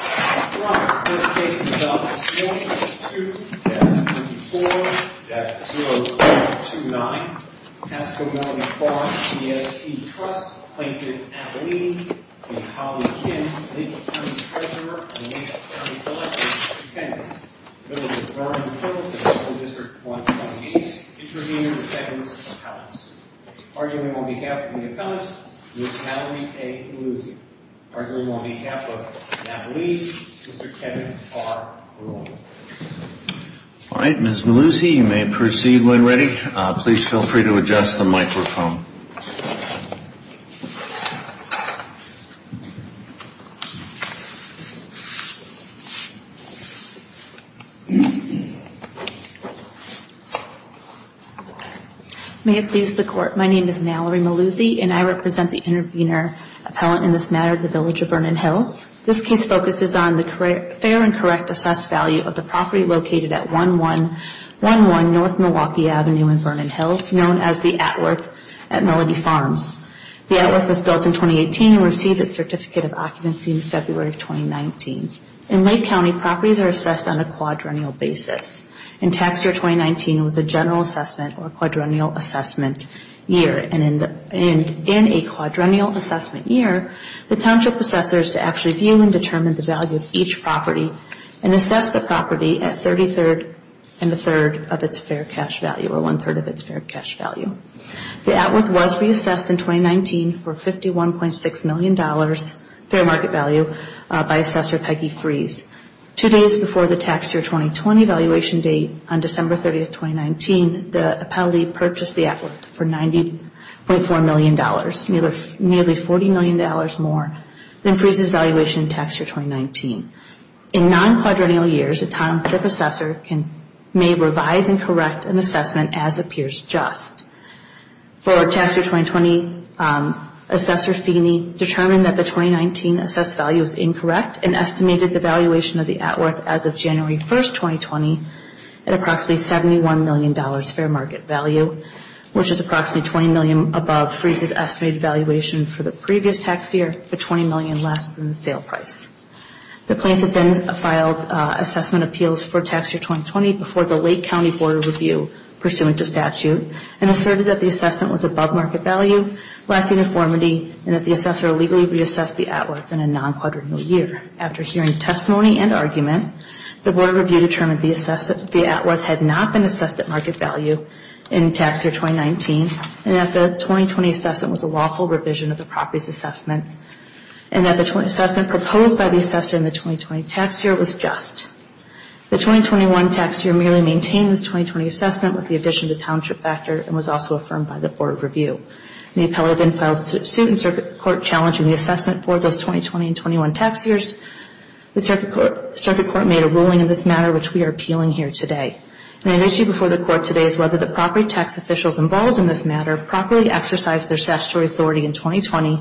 Arthur Robert engaged in robberies and students at 54��029 nemd Casco Mellody Farm DST Trust implented Matteli, a college of his kin linked to the treasurer and makeup contractors who pretended acquaintances to the Department of Federal and Instructional District 288 and intervened in a second appellate's stew. Arguing on behalf of the appealants was Natalie A. Paluzzi. Arguing on behalf of Natalie, Mr. Kevin R. Ruhl. All right, Ms. Maluzzi, you may proceed when ready. Please feel free to adjust the microphone. May it please the court. My name is Natalie Maluzzi, and I represent the intervener appellant in this matter, the village of Vernon Hills. This case focuses on the fair and correct assessed value of the property located at 1111 North Milwaukee Avenue in Vernon Hills, known as the Atworth at Mellody Farms. The Atworth was built in 2018 and received a certificate of occupancy in February of 2019. In Lake County, properties are assessed on a quadrennial basis. In tax year 2019, it was a general assessment or a quadrennial assessment year. And in a quadrennial assessment year, the township assessors to actually view and determine the value of each property and assess the property at 33rd and a third of its fair cash value or one third of its fair cash value. The Atworth was reassessed in 2019 for $51.6 million fair market value by Assessor Peggy Freese. Two days before the tax year 2020 valuation date on December 30th, 2019, the appellee purchased the Atworth for $90.4 million, nearly $40 million more than Freese's valuation in tax year 2019. In non-quadrennial years, a township assessor may revise and correct an assessment as appears just. For tax year 2020, Assessor Feeney determined that the 2019 assessed value was incorrect and estimated the valuation of the Atworth as of January 1st, 2020 at approximately $71 million fair market value, which is approximately $20 million above Freese's estimated valuation for the previous tax year for $20 million less than the sale price. The plaintiff then filed assessment appeals for tax year 2020 before the Lake County Board of Review pursuant to statute and asserted that the assessment was above market value, lacked uniformity, and that the assessor illegally reassessed the Atworth in a non-quadrennial year. After hearing testimony and argument, the Board of Review determined the Atworth had not been assessed at market value in tax year 2019 and that the 2020 assessment was a lawful revision of the property's assessment and that the assessment proposed by the assessor in the 2020 tax year was just. The 2021 tax year merely maintained this 2020 assessment with the addition of the township factor and was also affirmed by the Board of Review. The appellate then filed suit in circuit court challenging the assessment for those 2020 and 2021 tax years. The circuit court made a ruling in this matter, which we are appealing here today. An issue before the court today is whether the property tax officials involved in this matter properly exercised their statutory authority in 2020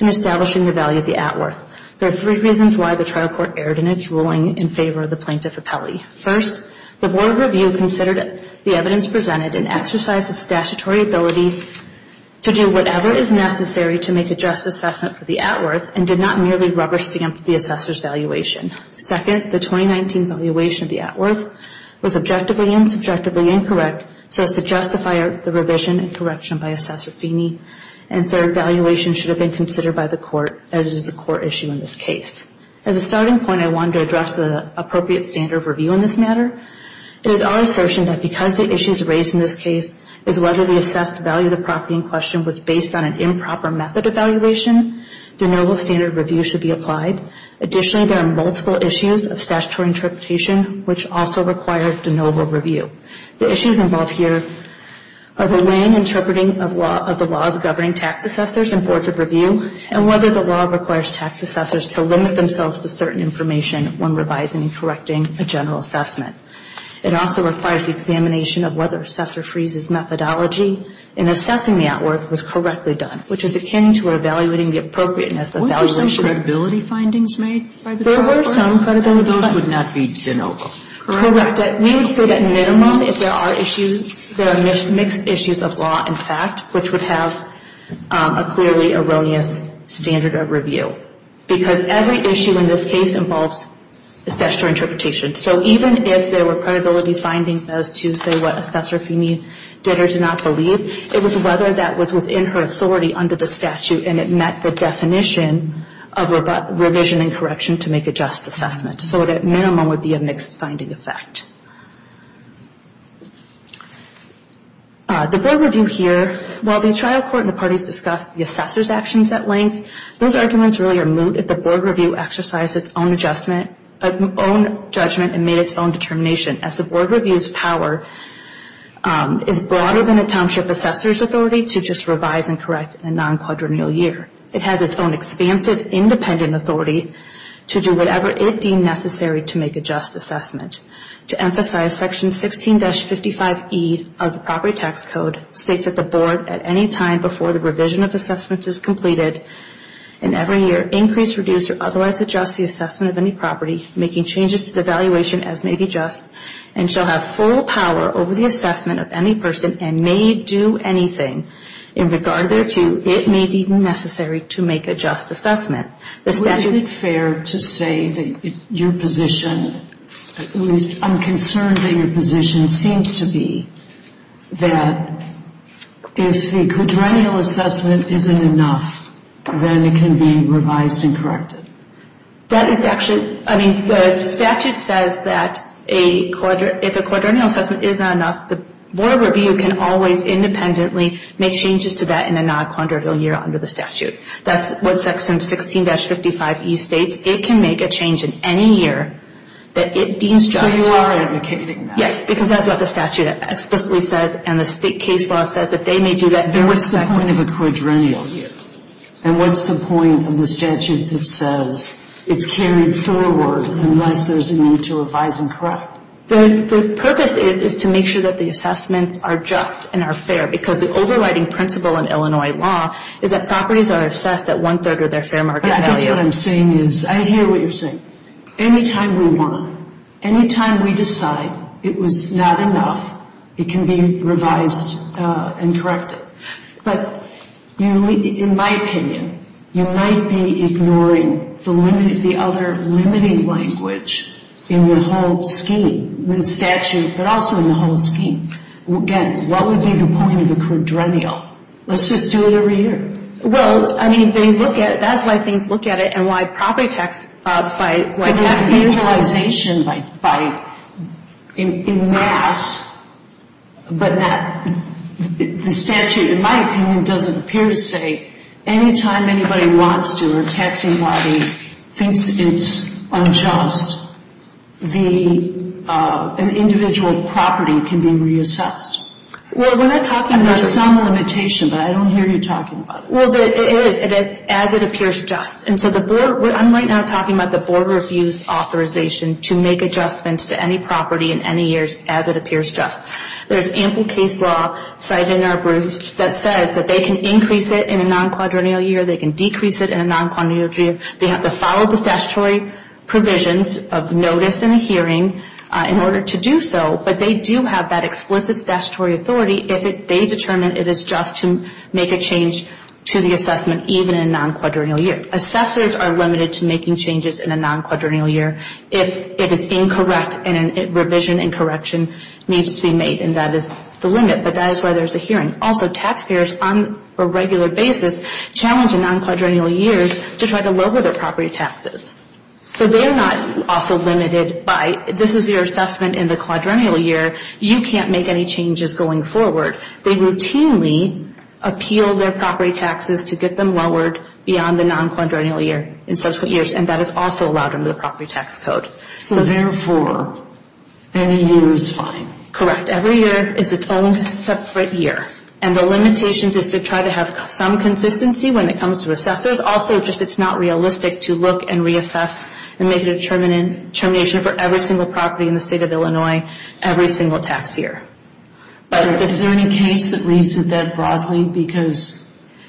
in establishing the value of the Atworth. There are three reasons why the trial court erred in its ruling in favor of the plaintiff appellee. First, the Board of Review considered the evidence presented an exercise of statutory ability to do whatever is necessary to make a just assessment for the Atworth and did not merely rubber stamp the assessor's valuation. Second, the 2019 valuation of the Atworth was objectively and subjectively incorrect so as to justify the revision and correction by Assessor Feeney. And third, valuation should have been considered by the court as it is a court issue in this case. As a starting point, I wanted to address the appropriate standard of review in this matter. It is our assertion that because the issues raised in this case is whether the assessed value of the property in question was based on an improper method of valuation, de novo standard review should be applied. Additionally, there are multiple issues of statutory interpretation which also require de novo review. The issues involved here are the lane interpreting of the laws governing tax assessors and boards of review and whether the law requires tax assessors to limit themselves to certain information when revising and correcting a general assessment. It also requires the examination of whether Assessor Freeney's methodology in assessing the Atworth was correctly done, which is akin to evaluating the appropriateness of valuation. Were there any credibility findings made by the court? There were some credibility findings. And those would not be de novo? Correct. We would say that minimum if there are issues, there are mixed issues of law and fact, which would have a clearly erroneous standard of review because every issue in this case involves a statutory interpretation. So even if there were credibility findings as to say what Assessor Freeney did or did not believe, it was whether that was within her authority under the statute and it met the definition of revision and correction to make a just assessment. So that minimum would be a mixed finding effect. The board review here, while the trial court and the parties discussed the assessor's actions at length, those arguments really are moot if the board review exercised its own judgment and made its own determination as the board review's power is broader than a township assessor's authority to just revise and correct in a non-quadrennial year. It has its own expansive independent authority to do whatever it deemed necessary to make a just assessment. To emphasize Section 16-55E of the Property Tax Code states that the board at any time before the revision of assessments is completed in every year increase, reduce, or otherwise adjust the assessment of any property making changes to the valuation as may be just and shall have full power over the assessment of any person and may do anything in regard to it may be necessary to make a just assessment. Is it fair to say that your position, at least I'm concerned that your position seems to be that if the quadrennial assessment isn't enough, then it can be revised and corrected? That is actually, I mean, the statute says that if a quadrennial assessment is not enough, the board review can always independently make changes to that in a non-quadrennial year under the statute. That's what Section 16-55E states. It can make a change in any year that it deems just. So you are advocating that? Yes, because that's what the statute explicitly says and the state case law says that they may do that. What's the point of a quadrennial year? And what's the point of the statute that says it's carried forward unless there's a need to revise and correct? The purpose is to make sure that the assessments are just and are fair because the overriding principle in Illinois law is that properties are assessed at one-third of their fair market value. I guess what I'm saying is, I hear what you're saying. Any time we want, any time we decide it was not enough, it can be revised and corrected. But in my opinion, you might be ignoring the other limiting language in the whole scheme, the statute, but also in the whole scheme. Again, what would be the point of a quadrennial? Let's just do it every year. Well, I mean, they look at it, that's why things look at it, and why property tax, by taxing. Because there's mutualization by, in mass, but the statute, in my opinion, doesn't appear to say any time anybody wants to or taxing somebody thinks it's unjust, the, an individual property can be reassessed. Well, we're not talking about some limitation, but I don't hear you talking about it. Well, it is, it is, as it appears just. And so the board, I'm right now talking about the board reviews authorization to make adjustments to any property in any years as it appears just. There's ample case law cited in our briefs that says that they can increase it in a non-quadrennial year, they can decrease it in a non-quadrennial year. They have to follow the statutory provisions of notice and hearing in order to do so. But they do have that explicit statutory authority if they determine it is just to make a change to the assessment even in a non-quadrennial year. Assessors are limited to making changes in a non-quadrennial year if it is incorrect and a revision and correction needs to be made, and that is the limit. But that is why there's a hearing. Also, taxpayers on a regular basis challenge in non-quadrennial years to try to lower their property taxes. So they're not also limited by, this is your assessment in the quadrennial year, you can't make any changes going forward. They routinely appeal their property taxes to get them lowered beyond the non-quadrennial year in subsequent years, and that is also allowed under the property tax code. So therefore, any year is fine. Correct. Every year is its own separate year. And the limitation is to try to have some consistency when it comes to assessors. Also, just it's not realistic to look and reassess and make a determination for every single property in the state of Illinois every single tax year. Is there any case that reads that broadly because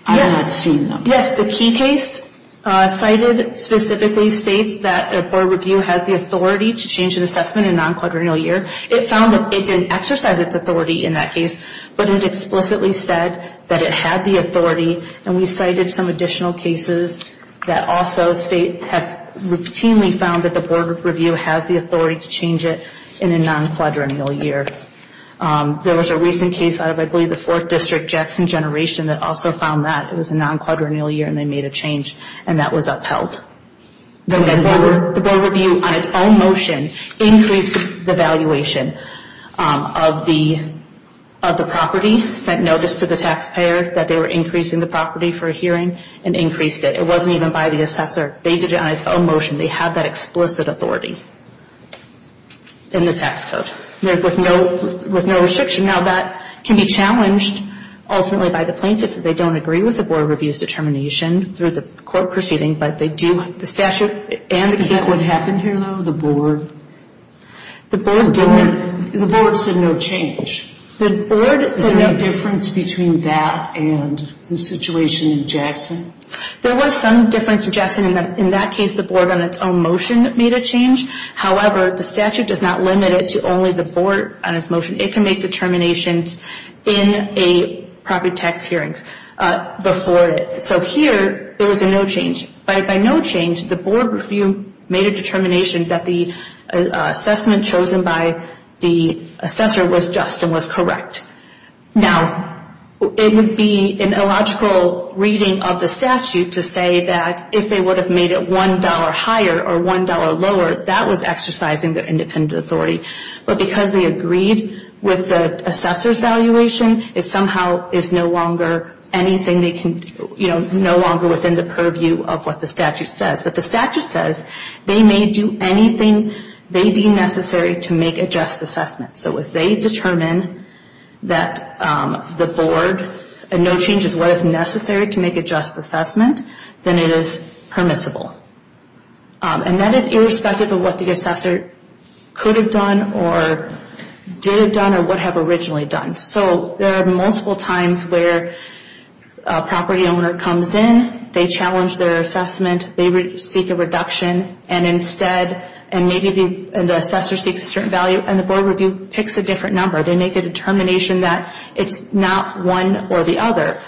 I have not seen them? Yes, the key case cited specifically states that a board review has the authority to change an assessment in a non-quadrennial year. It found that it didn't exercise its authority in that case, but it explicitly said that it had the authority, and we cited some additional cases that also state have routinely found that the board review has the authority to change it in a non-quadrennial year. There was a recent case out of, I believe, the 4th District Jackson Generation that also found that it was a non-quadrennial year and they made a change, and that was upheld. The board review on its own motion increased the valuation of the property, sent notice to the taxpayer that they were increasing the property for a hearing, and increased it. It wasn't even by the assessor. They did it on its own motion. They have that explicit authority in the tax code with no restriction. Now, that can be challenged ultimately by the plaintiff if they don't agree with the board review's determination through the court proceeding, but they do have the statute and the case. Is that what happened here, though, the board? The board didn't. The board said no change. The board said no change. Is there a difference between that and the situation in Jackson? There was some difference in Jackson. In that case, the board on its own motion made a change. However, the statute does not limit it to only the board on its motion. It can make determinations in a property tax hearing before it. So here, there was a no change. By no change, the board review made a determination that the assessment chosen by the assessor was just and was correct. Now, it would be an illogical reading of the statute to say that if they would have made it $1 higher or $1 lower, that was exercising their independent authority. But because they agreed with the assessor's valuation, it somehow is no longer anything they can, you know, no longer within the purview of what the statute says. But the statute says they may do anything they deem necessary to make a just assessment. So if they determine that the board, no change is what is necessary to make a just assessment, then it is permissible. And that is irrespective of what the assessor could have done or did have done or would have originally done. So there are multiple times where a property owner comes in. They challenge their assessment. They seek a reduction. And instead, and maybe the assessor seeks a certain value, and the board review picks a different number. They make a determination that it's not one or the other.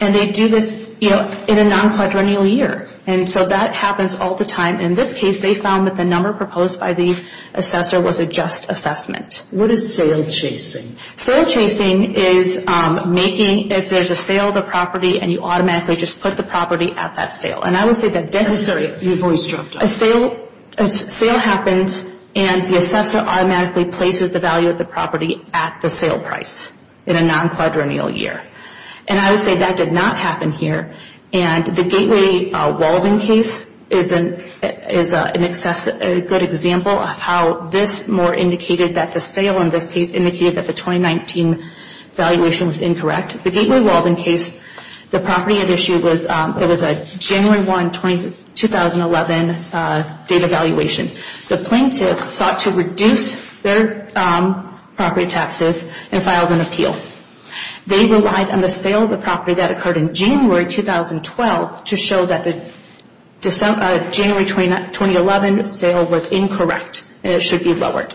And they do this, you know, in a nonquadrennial year. And so that happens all the time. And in this case, they found that the number proposed by the assessor was a just assessment. What is sale chasing? Sale chasing is making, if there's a sale of the property, and you automatically just put the property at that sale. And I would say that that's... I'm sorry, your voice dropped off. A sale happens, and the assessor automatically places the value of the property at the sale price in a nonquadrennial year. And I would say that did not happen here. And the Gateway Walden case is a good example of how this more indicated that the sale in this case indicated that the 2019 valuation was incorrect. The Gateway Walden case, the property at issue was a January 1, 2011 data valuation. The plaintiff sought to reduce their property taxes and filed an appeal. They relied on the sale of the property that occurred in January 2012 to show that the January 2011 sale was incorrect and it should be lowered.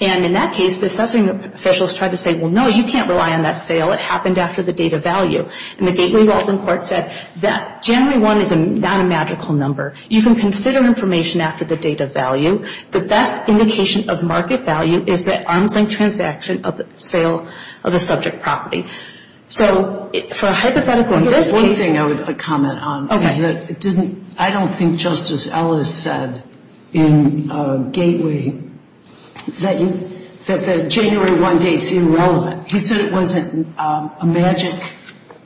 And in that case, the assessing officials tried to say, well, no, you can't rely on that sale. It happened after the date of value. And the Gateway Walden court said that January 1 is not a magical number. You can consider information after the date of value. The best indication of market value is the arm's length transaction of the sale of a subject property. So for a hypothetical case... There's one thing I would like to comment on. Okay. I don't think Justice Ellis said in Gateway that the January 1 date is irrelevant. He said it wasn't a magic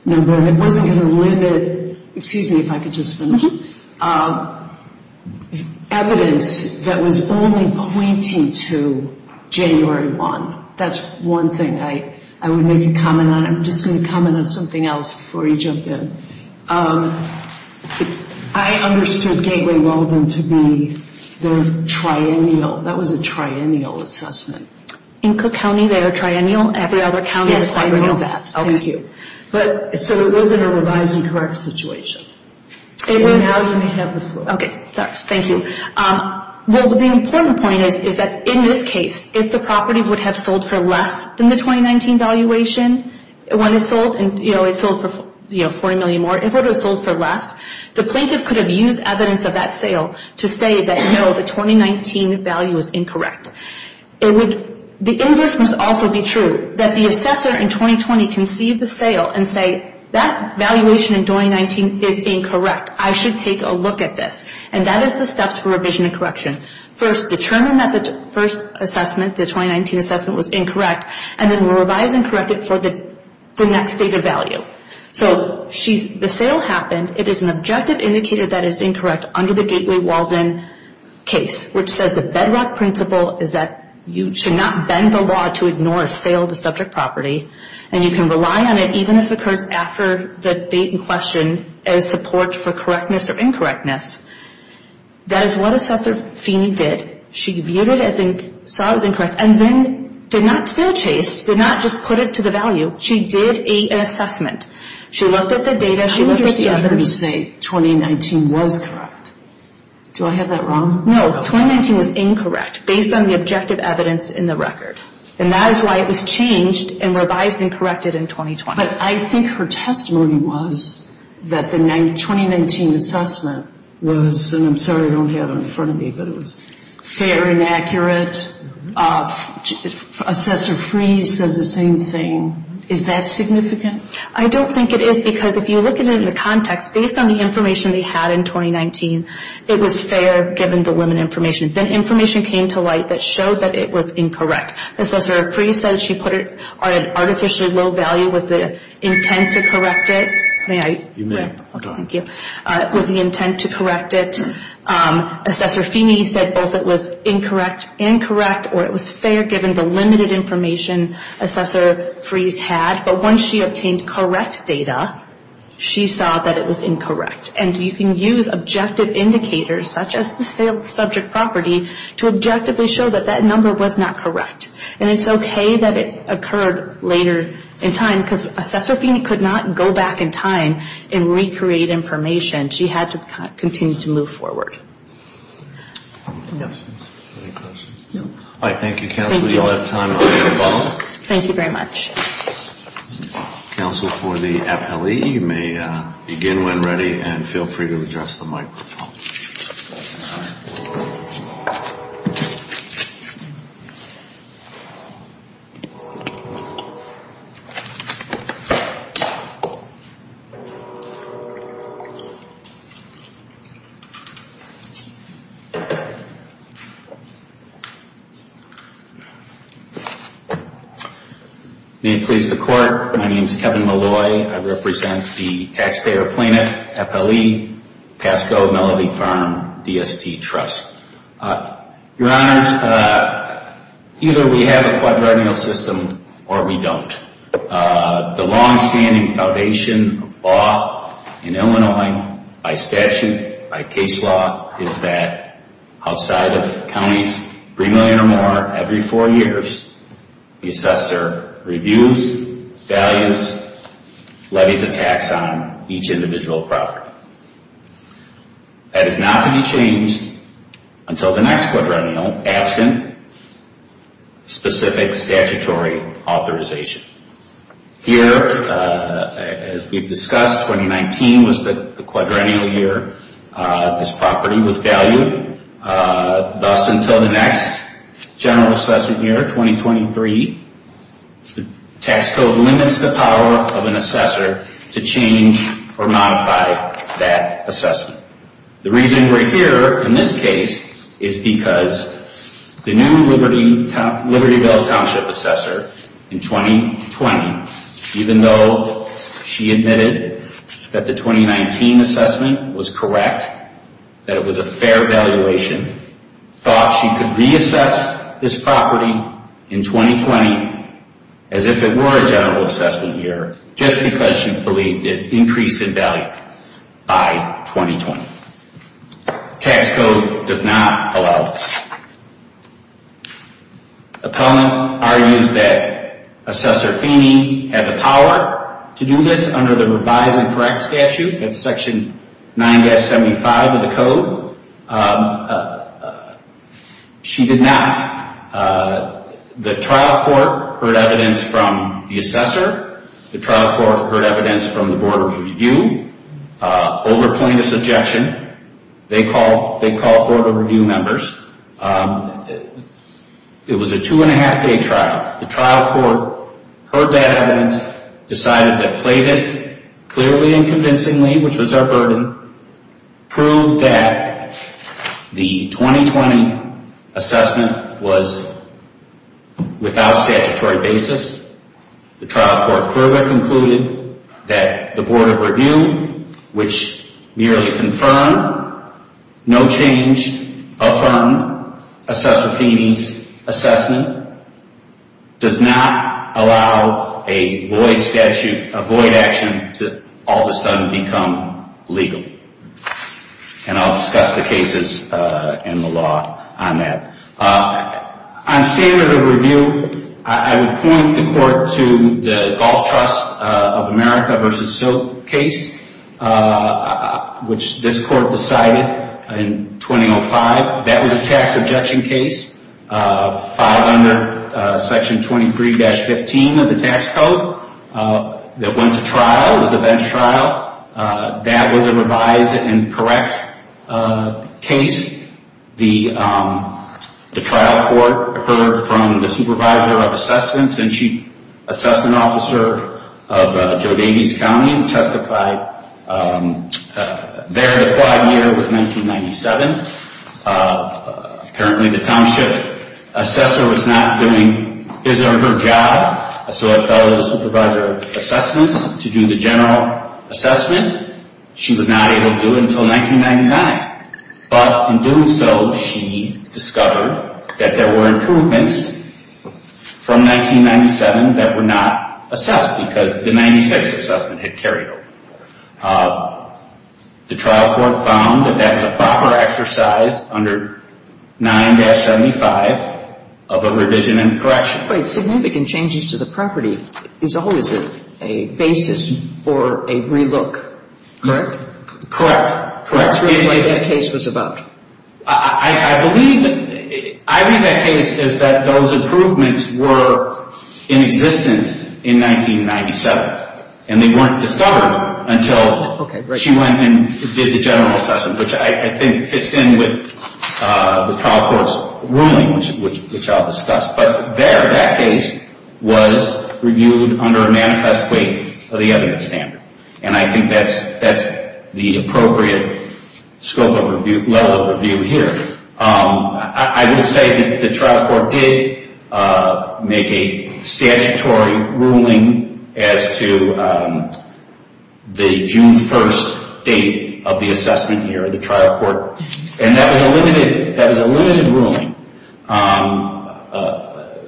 number and it wasn't going to limit, excuse me if I could just finish. Mm-hmm. The evidence that was only pointing to January 1, that's one thing I would make a comment on. I'm just going to comment on something else before you jump in. I understood Gateway Walden to be the triennial. That was a triennial assessment. In Cook County, they are triennial. Every other county is a triennial. Yes, I know that. Thank you. So it was in a revised and correct situation. And now you may have the floor. Okay, thanks. Thank you. Well, the important point is that in this case, if the property would have sold for less than the 2019 valuation, when it sold for $40 million more, if it would have sold for less, the plaintiff could have used evidence of that sale to say that no, the 2019 value is incorrect. The inverse must also be true, that the assessor in 2020 can see the sale and say, that valuation in 2019 is incorrect. I should take a look at this. And that is the steps for revision and correction. First, determine that the first assessment, the 2019 assessment, was incorrect, and then revise and correct it for the next date of value. So the sale happened. It is an objective indicator that is incorrect under the Gateway Walden case, which says the bedrock principle is that you should not bend the law to ignore a sale of the subject property, and you can rely on it even if it occurs after the date in question as support for correctness or incorrectness. That is what Assessor Feeney did. She viewed it as incorrect and then did not sell Chase, did not just put it to the value. She did an assessment. She looked at the data. She looked at the evidence. How would you say 2019 was correct? Do I have that wrong? No, 2019 was incorrect based on the objective evidence in the record. And that is why it was changed and revised and corrected in 2020. But I think her testimony was that the 2019 assessment was, and I'm sorry I don't have it in front of me, but it was fair and accurate. Assessor Feeney said the same thing. Is that significant? I don't think it is because if you look at it in the context, based on the information they had in 2019, it was fair given the limited information. Then information came to light that showed that it was incorrect. Assessor Freese said she put it at an artificially low value with the intent to correct it. May I? You may. Okay. Thank you. With the intent to correct it. Assessor Feeney said both it was incorrect, incorrect, or it was fair given the limited information Assessor Freese had. But once she obtained correct data, she saw that it was incorrect. And you can use objective indicators, such as the subject property, to objectively show that that number was not correct. And it's okay that it occurred later in time, because Assessor Feeney could not go back in time and recreate information. She had to continue to move forward. Any questions? No. All right. Thank you, Counsel. You all have time if you're involved. Thank you very much. Counsel, for the FLE, you may begin when ready, and feel free to address the microphone. All right. May it please the Court, my name is Kevin Malloy. I represent the Taxpayer Plaintiff FLE Pasco Melody Farm DST Trust. Your Honors, either we have a quadrennial system or we don't. The longstanding foundation of law in Illinois by statute, by case law, is that outside of counties, every four years, the assessor reviews, values, levies a tax on each individual property. That is not to be changed until the next quadrennial, absent specific statutory authorization. Here, as we've discussed, 2019 was the quadrennial year this property was valued. Thus, until the next general assessment year, 2023, the tax code limits the power of an assessor to change or modify that assessment. The reason we're here in this case is because the new Libertyville Township Assessor in 2020, even though she admitted that the 2019 assessment was correct, that it was a fair valuation, thought she could reassess this property in 2020 as if it were a general assessment year, just because she believed it increased in value by 2020. Tax code does not allow this. Appellant argues that Assessor Feeney had the power to do this under the Revised and Correct Statute, that's Section 9-75 of the code. She did not. The trial court heard evidence from the assessor. The trial court heard evidence from the Board of Review. Overplaint is objection. They called Board of Review members. It was a two-and-a-half-day trial. The trial court heard that evidence, decided to play it clearly and convincingly, which was our burden, proved that the 2020 assessment was without statutory basis. The trial court further concluded that the Board of Review, which merely confirmed, no change, affirmed Assessor Feeney's assessment, does not allow a void action to all of a sudden become legal. And I'll discuss the cases in the law on that. On standard of review, I would point the court to the Golf Trust of America v. Silk case, which this court decided in 2005. That was a tax objection case, filed under Section 23-15 of the tax code, that went to trial, was a bench trial. That was a revised and correct case. The trial court heard from the Supervisor of Assessments and Chief Assessment Officer of Joe Davies County who testified there. The quad year was 1997. Apparently, the township assessor was not doing his or her job, so it fell to the Supervisor of Assessments to do the general assessment. She was not able to do it until 1999. But in doing so, she discovered that there were improvements from 1997 that were not assessed because the 1996 assessment had carried over. The trial court found that that was a proper exercise under 9-75 of a revision and correction. But significant changes to the property is always a basis for a relook, correct? Correct. That's the way that case was about. I believe that. I believe that case is that those improvements were in existence in 1997, and they weren't discovered until she went and did the general assessment, which I think fits in with the trial court's ruling, which I'll discuss. But there, that case was reviewed under a manifest weight of the evidence standard. And I think that's the appropriate scope of review, level of review here. I would say that the trial court did make a statutory ruling as to the June 1st date of the assessment here, the trial court, and that was a limited ruling.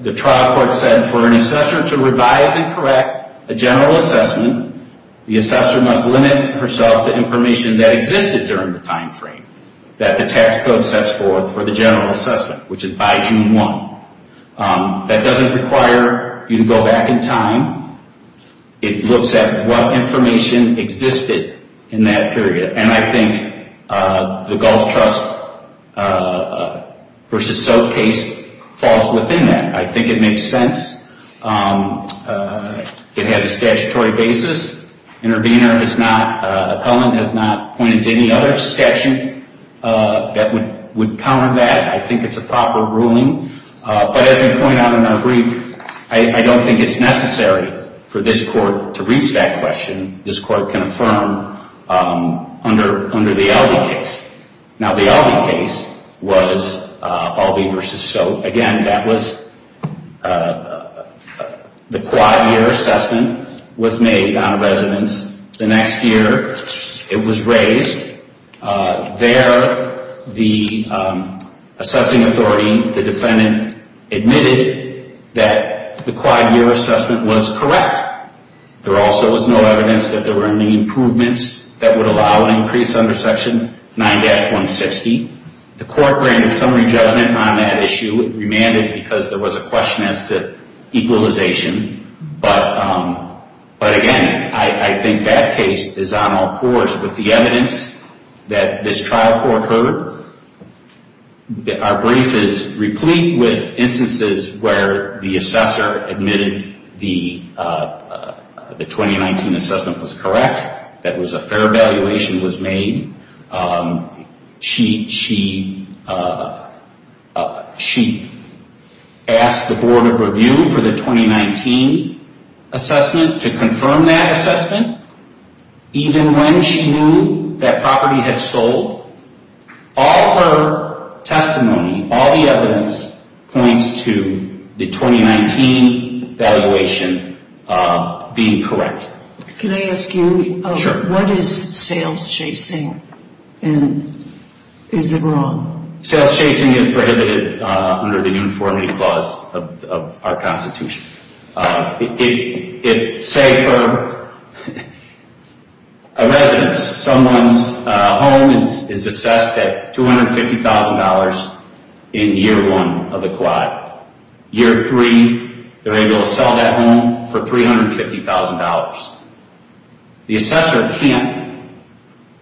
The trial court said for an assessor to revise and correct a general assessment, the assessor must limit herself to information that existed during the time frame that the tax code sets forth for the general assessment, which is by June 1. That doesn't require you to go back in time. It looks at what information existed in that period. And I think the Gulf Trust v. Soap case falls within that. I think it makes sense. It has a statutory basis. Intervener has not, appellant has not pointed to any other statute that would counter that. I think it's a proper ruling. But as we point out in our brief, I don't think it's necessary for this court to reach that question. This court can affirm under the Albee case. Now, the Albee case was Albee v. Soap. Again, that was the quad-year assessment was made on residence. The next year it was raised. There the assessing authority, the defendant, admitted that the quad-year assessment was correct. There also was no evidence that there were any improvements that would allow an increase under Section 9-160. The court granted summary judgment on that issue. It remanded because there was a question as to equalization. But again, I think that case is on all fours with the evidence that this trial court heard. Our brief is replete with instances where the assessor admitted the 2019 assessment was correct, that a fair evaluation was made. She asked the Board of Review for the 2019 assessment to confirm that assessment, even when she knew that property had sold. All her testimony, all the evidence, points to the 2019 evaluation being correct. Can I ask you, what is sales chasing and is it wrong? Sales chasing is prohibited under the Uniformity Clause of our Constitution. If, say, for a residence, someone's home is assessed at $250,000 in year one of the quad. Year three, they're able to sell that home for $350,000. The assessor can't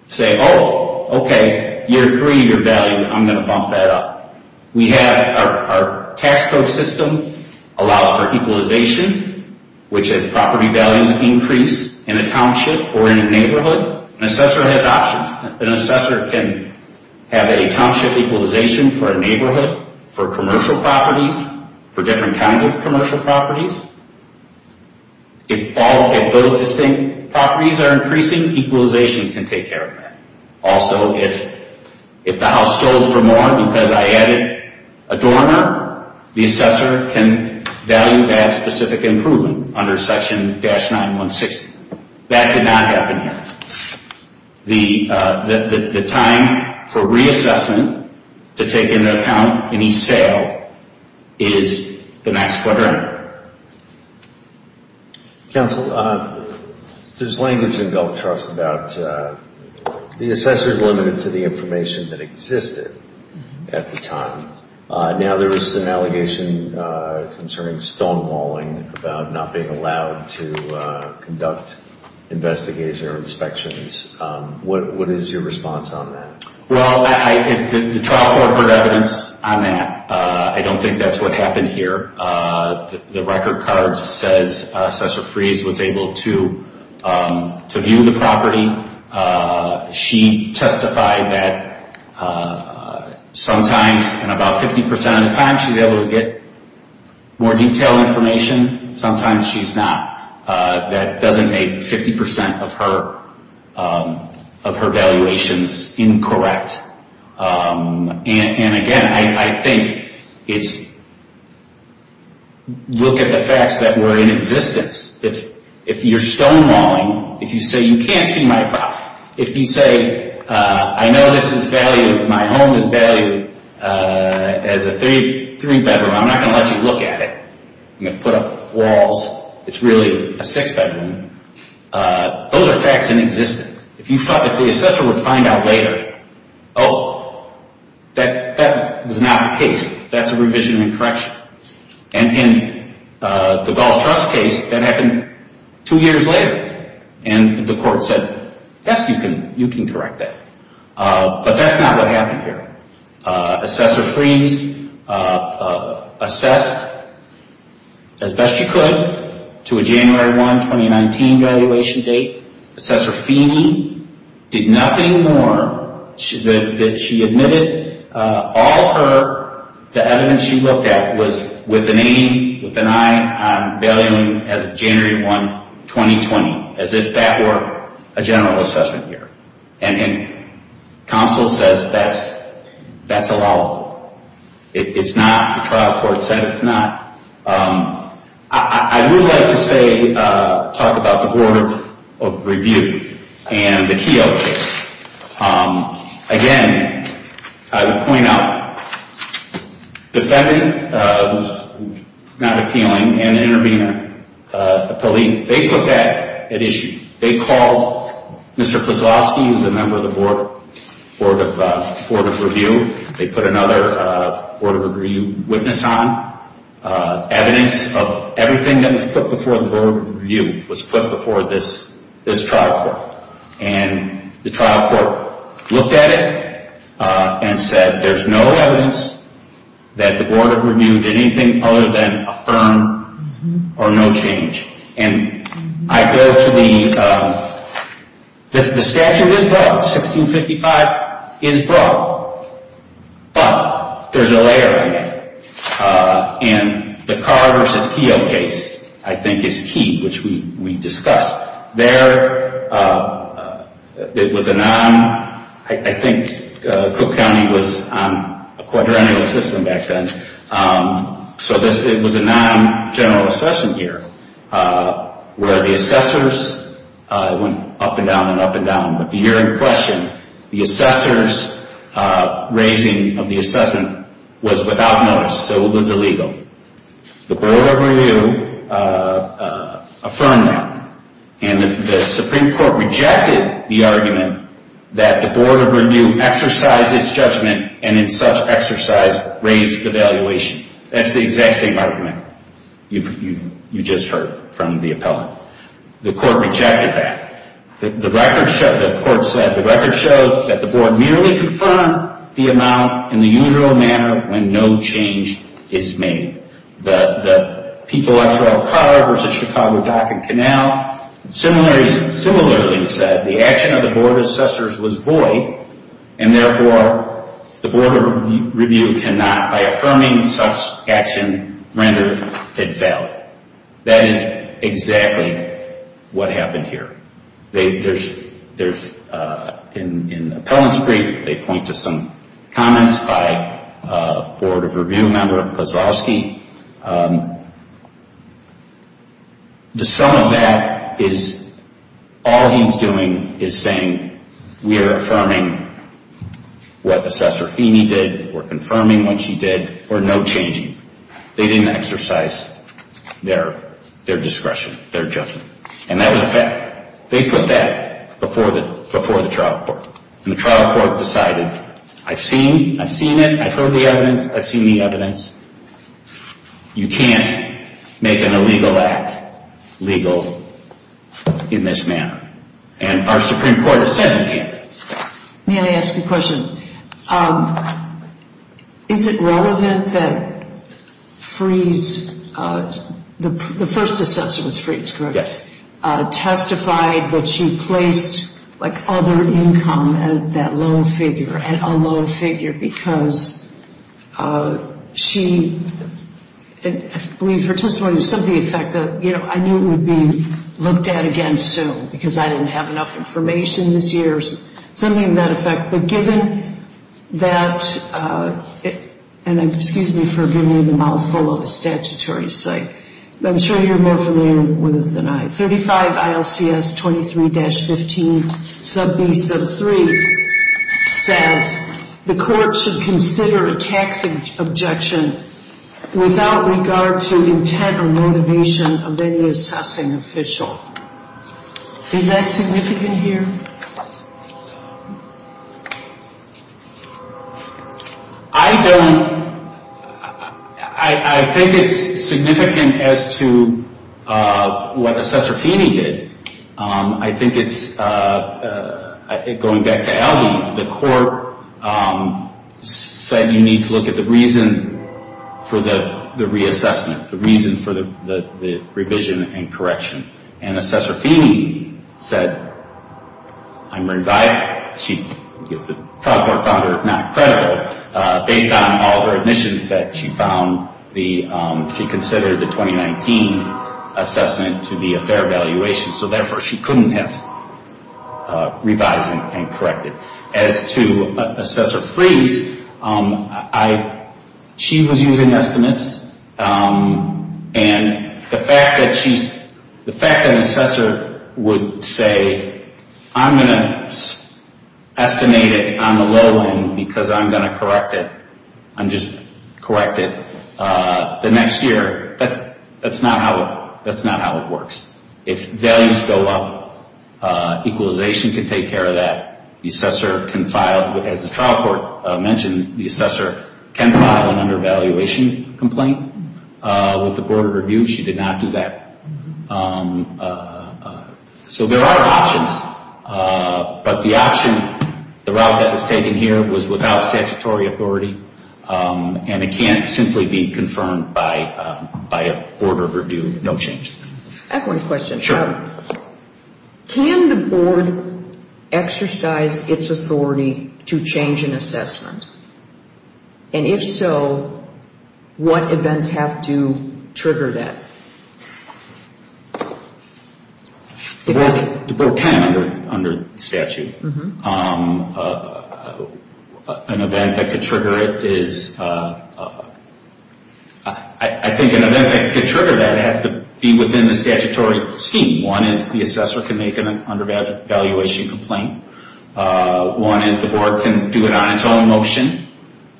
say, oh, okay, year three you're valued, I'm going to bump that up. Our tax code system allows for equalization, which is property values increase in a township or in a neighborhood. An assessor has options. An assessor can have a township equalization for a neighborhood, for commercial properties, for different kinds of commercial properties. If those distinct properties are increasing, equalization can take care of that. Also, if the house sold for more because I added a dormer, the assessor can value that specific improvement under Section 916. That did not happen here. The time for reassessment to take into account any sale is the next quarter. Counsel, there's language in Gulf Trust about the assessor's limited to the information that existed at the time. Now there is an allegation concerning stonewalling about not being allowed to conduct investigation or inspections. What is your response on that? Well, the trial court heard evidence on that. I don't think that's what happened here. The record card says Assessor Freeze was able to view the property. She testified that sometimes in about 50% of the time she's able to get more detailed information. Sometimes she's not. That doesn't make 50% of her valuations incorrect. And again, I think it's look at the facts that were in existence. If you're stonewalling, if you say you can't see my property, if you say I know my home is valued as a three-bedroom, I'm not going to let you look at it. I'm going to put up walls. It's really a six-bedroom. Those are facts in existence. If the assessor would find out later, oh, that was not the case, that's a revision and correction. And in the Gulf Trust case, that happened two years later. And the court said, yes, you can correct that. But that's not what happened here. Assessor Freeze assessed as best she could to a January 1, 2019, valuation date. Assessor Feeney did nothing more than she admitted all the evidence she looked at was with an A, with an I, on valuing as of January 1, 2020, as if that were a general assessment here. And counsel says that's allowable. It's not. The trial court said it's not. I would like to say, talk about the Board of Review and the Keogh case. Again, I would point out, the defendant, who's not appealing, and the intervener, the police, they put that at issue. They called Mr. Kozlowski, who's a member of the Board of Review. They put another Board of Review witness on. Evidence of everything that was put before the Board of Review was put before this trial court. And the trial court looked at it and said, there's no evidence that the Board of Review did anything other than affirm or no change. And I go to the, the statute is broad. 1655 is broad. But there's a layer here. In the Carr v. Keogh case, I think it's key, which we discussed. There, it was a non, I think Cook County was on a quadrennial system back then. So it was a non-general assessment year where the assessors went up and down and up and down. But the year in question, the assessors raising of the assessment was without notice. So it was illegal. The Board of Review affirmed that. And the Supreme Court rejected the argument that the Board of Review exercised its judgment and in such exercise raised the valuation. That's the exact same argument you just heard from the appellant. The court rejected that. The record showed, the court said, the record shows that the Board merely confirmed the amount in the usual manner when no change is made. The Pete Gillespie Carr v. Chicago Dock and Canal similarly said the action of the Board of Assessors was void and therefore the Board of Review cannot, by affirming such action, render it valid. That is exactly what happened here. There's, in the appellant's brief, they point to some comments by a Board of Review member, Pazowski. The sum of that is all he's doing is saying we are affirming what Assessor Feeney did. We're confirming what she did. We're no changing. They didn't exercise their discretion, their judgment. And that was a fact. They put that before the trial court. And the trial court decided, I've seen it. I've heard the evidence. I've seen the evidence. You can't make an illegal act legal in this manner. And our Supreme Court has said you can't. May I ask a question? Is it relevant that Freese, the first assessor was Freese, correct? Yes. Testified that she placed, like, other income at that lower figure, at a lower figure, because she, I believe her testimony was something to the effect that, you know, I knew it would be looked at again soon because I didn't have enough information this year. Something to that effect. But given that, and excuse me for giving you the mouthful of a statutory site, but I'm sure you're more familiar with it than I. 35 ILCS 23-15 sub B sub 3 says the court should consider a tax objection without regard to intent or motivation of any assessing official. Is that significant here? I think it's significant as to what Assessor Feeney did. I think it's, going back to Aldi, the court said you need to look at the reason for the reassessment, the reason for the revision and correction. And Assessor Feeney said, I'm revising. The trial court found her not credible based on all her admissions that she found, she considered the 2019 assessment to be a fair evaluation. So, therefore, she couldn't have revised and corrected. As to Assessor Freese, she was using estimates. And the fact that an assessor would say, I'm going to estimate it on the low end because I'm going to correct it. I'm just going to correct it. The next year, that's not how it works. If values go up, equalization can take care of that. The assessor can file, as the trial court mentioned, the assessor can file an undervaluation complaint with the Board of Review. She did not do that. So there are options. But the option, the route that was taken here, was without statutory authority. And it can't simply be confirmed by a Board of Review, no change. I have one question. Sure. Can the board exercise its authority to change an assessment? And if so, what events have to trigger that? The board can under statute. An event that could trigger it is, I think an event that could trigger that would have to be within the statutory scheme. One is the assessor can make an undervaluation complaint. One is the board can do an on-and-off motion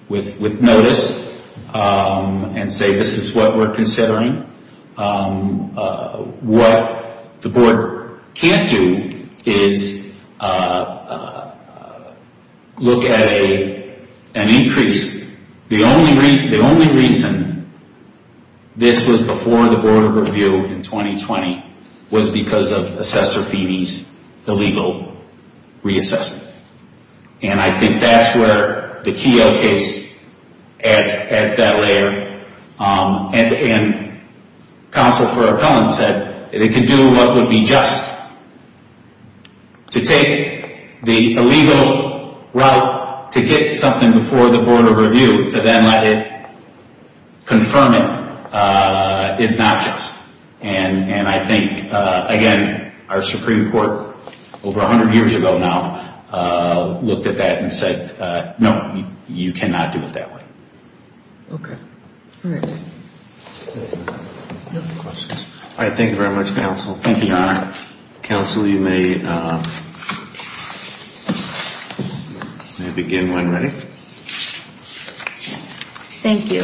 with notice and say this is what we're considering. What the board can't do is look at an increase. The only reason this was before the Board of Review in 2020 was because of Assessor Feeney's illegal reassessment. And I think that's where the Keogh case adds that layer. And Counsel for Appellants said it can do what would be just to take the illegal route to get something before the Board of Review to then let it confirm it is not just. And I think, again, our Supreme Court over 100 years ago now looked at that and said, no, you cannot do it that way. Okay. All right. All right. Thank you very much, Counsel. Thank you, Your Honor. Counsel, you may begin when ready. Thank you.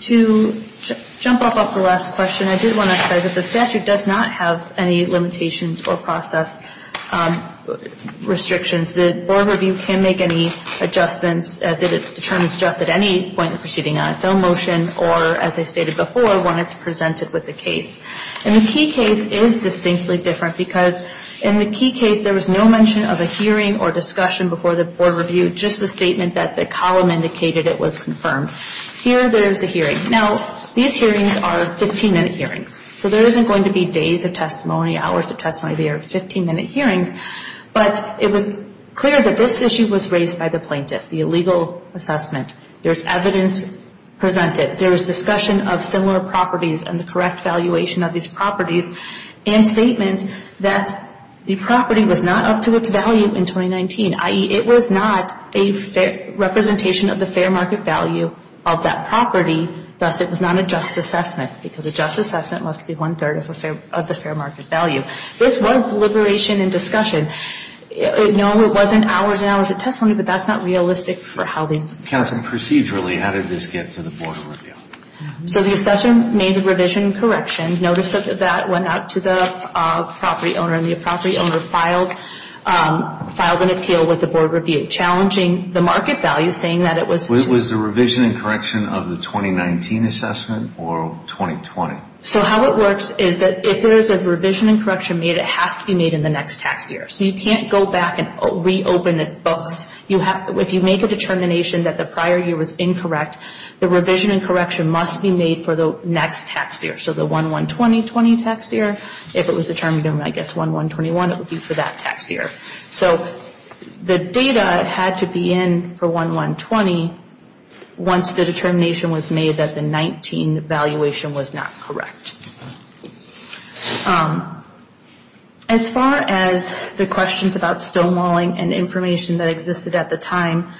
To jump off of the last question, I did want to emphasize that the statute does not have any limitations or process restrictions. The Board of Review can make any adjustments as it determines just at any point in proceeding on its own motion or, as I stated before, when it's presented with the case. And the Keogh case is distinctly different because in the Keogh case, there was no mention of a hearing or discussion before the Board of Review, just the statement that the column indicated it was confirmed. Here, there is a hearing. Now, these hearings are 15-minute hearings. So there isn't going to be days of testimony, hours of testimony. They are 15-minute hearings. But it was clear that this issue was raised by the plaintiff, the illegal assessment. There is evidence presented. There is discussion of similar properties and the correct valuation of these properties and statements that the property was not up to its value in 2019, i.e., it was not a representation of the fair market value of that property. Thus, it was not a just assessment because a just assessment must be one-third of the fair market value. This was deliberation and discussion. No, it wasn't hours and hours of testimony, but that's not realistic for how these. Counsel, procedurally, how did this get to the Board of Review? So the assessment made the revision and correction. Notice that that went out to the property owner, and the property owner filed an appeal with the Board of Review, challenging the market value, saying that it was... Was the revision and correction of the 2019 assessment or 2020? So how it works is that if there is a revision and correction made, it has to be made in the next tax year. So you can't go back and reopen the books. If you make a determination that the prior year was incorrect, the revision and correction must be made for the next tax year, so the 1-1-20-20 tax year. If it was determined in, I guess, 1-1-21, it would be for that tax year. So the data had to be in for 1-1-20 once the determination was made that the 19 valuation was not correct. As far as the questions about stonewalling and information that existed at the time,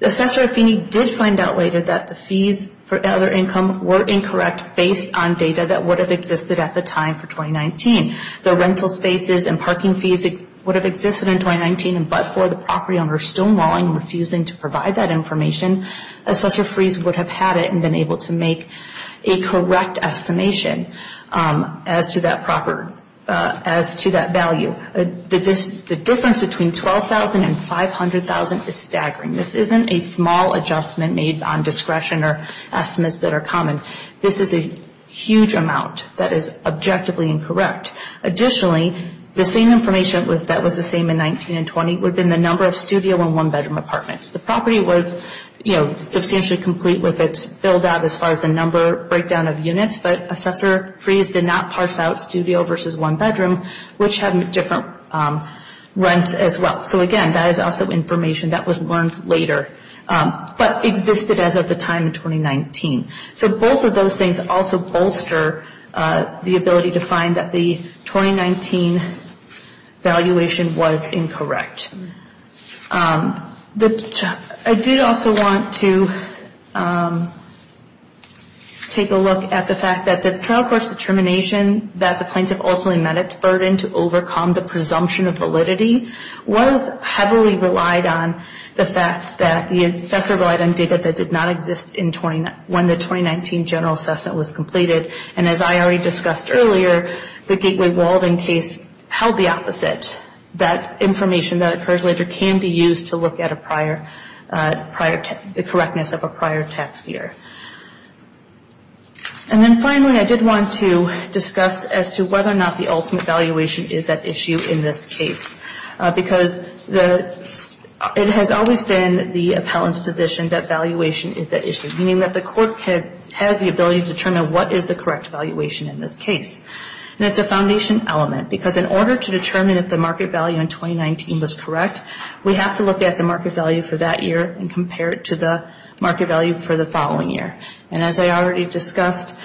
Assessor Affini did find out later that the fees for elder income were incorrect based on data that would have existed at the time for 2019. The rental spaces and parking fees would have existed in 2019, but for the property owner stonewalling and refusing to provide that information, Assessor Frees would have had it and been able to make a correct estimation as to that value. The difference between $12,000 and $500,000 is staggering. This isn't a small adjustment made on discretion or estimates that are common. This is a huge amount that is objectively incorrect. Additionally, the same information that was the same in 19 and 20 would have been the number of studio and one-bedroom apartments. The property was, you know, substantially complete with its build-out as far as the number breakdown of units, but Assessor Frees did not parse out studio versus one-bedroom, which had different rents as well. So again, that is also information that was learned later, but existed as of the time in 2019. So both of those things also bolster the ability to find that the 2019 valuation was incorrect. I did also want to take a look at the fact that the trial court's determination that the plaintiff ultimately met its burden to overcome the presumption of validity was heavily relied on the fact that the assessor relied on data that did not exist when the 2019 general assessment was completed. And as I already discussed earlier, the Gateway Walden case held the opposite. That information that occurs later can be used to look at the correctness of a prior tax year. And then finally, I did want to discuss as to whether or not the ultimate valuation is at issue in this case, because it has always been the appellant's position that valuation is at issue, meaning that the court has the ability to determine what is the correct valuation in this case. And it's a foundation element, because in order to determine if the market value in 2019 was correct, we have to look at the market value for that year and compare it to the market value for the following year. And as I already discussed,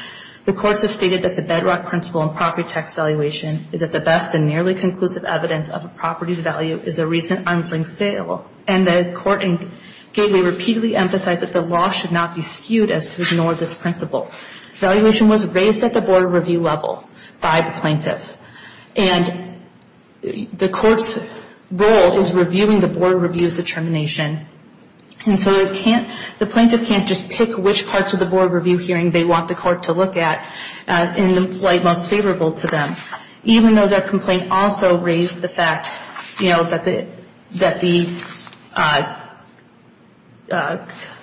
the courts have stated that the bedrock principle in property tax valuation is that the best and nearly conclusive evidence of a property's value is a recent arm's length sale. And the court in Gateway repeatedly emphasized that the law should not be skewed as to ignore this principle. Valuation was raised at the Board of Review level by the plaintiff. And the court's role is reviewing the Board of Review's determination. And so the plaintiff can't just pick which parts of the Board of Review hearing they want the court to look at in the light most favorable to them, even though their complaint also raised the fact that the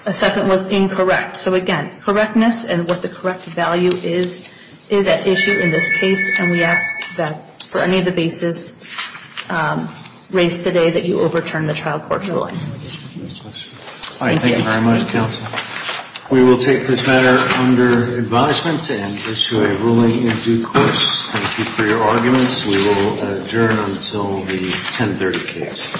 assessment was incorrect. So again, correctness and what the correct value is, is at issue in this case. And we ask that for any of the bases raised today that you overturn the trial court's ruling. Thank you very much, Counsel. We will take this matter under advisement and issue a ruling in due course. Thank you for your arguments. We will adjourn until the 10.30 case.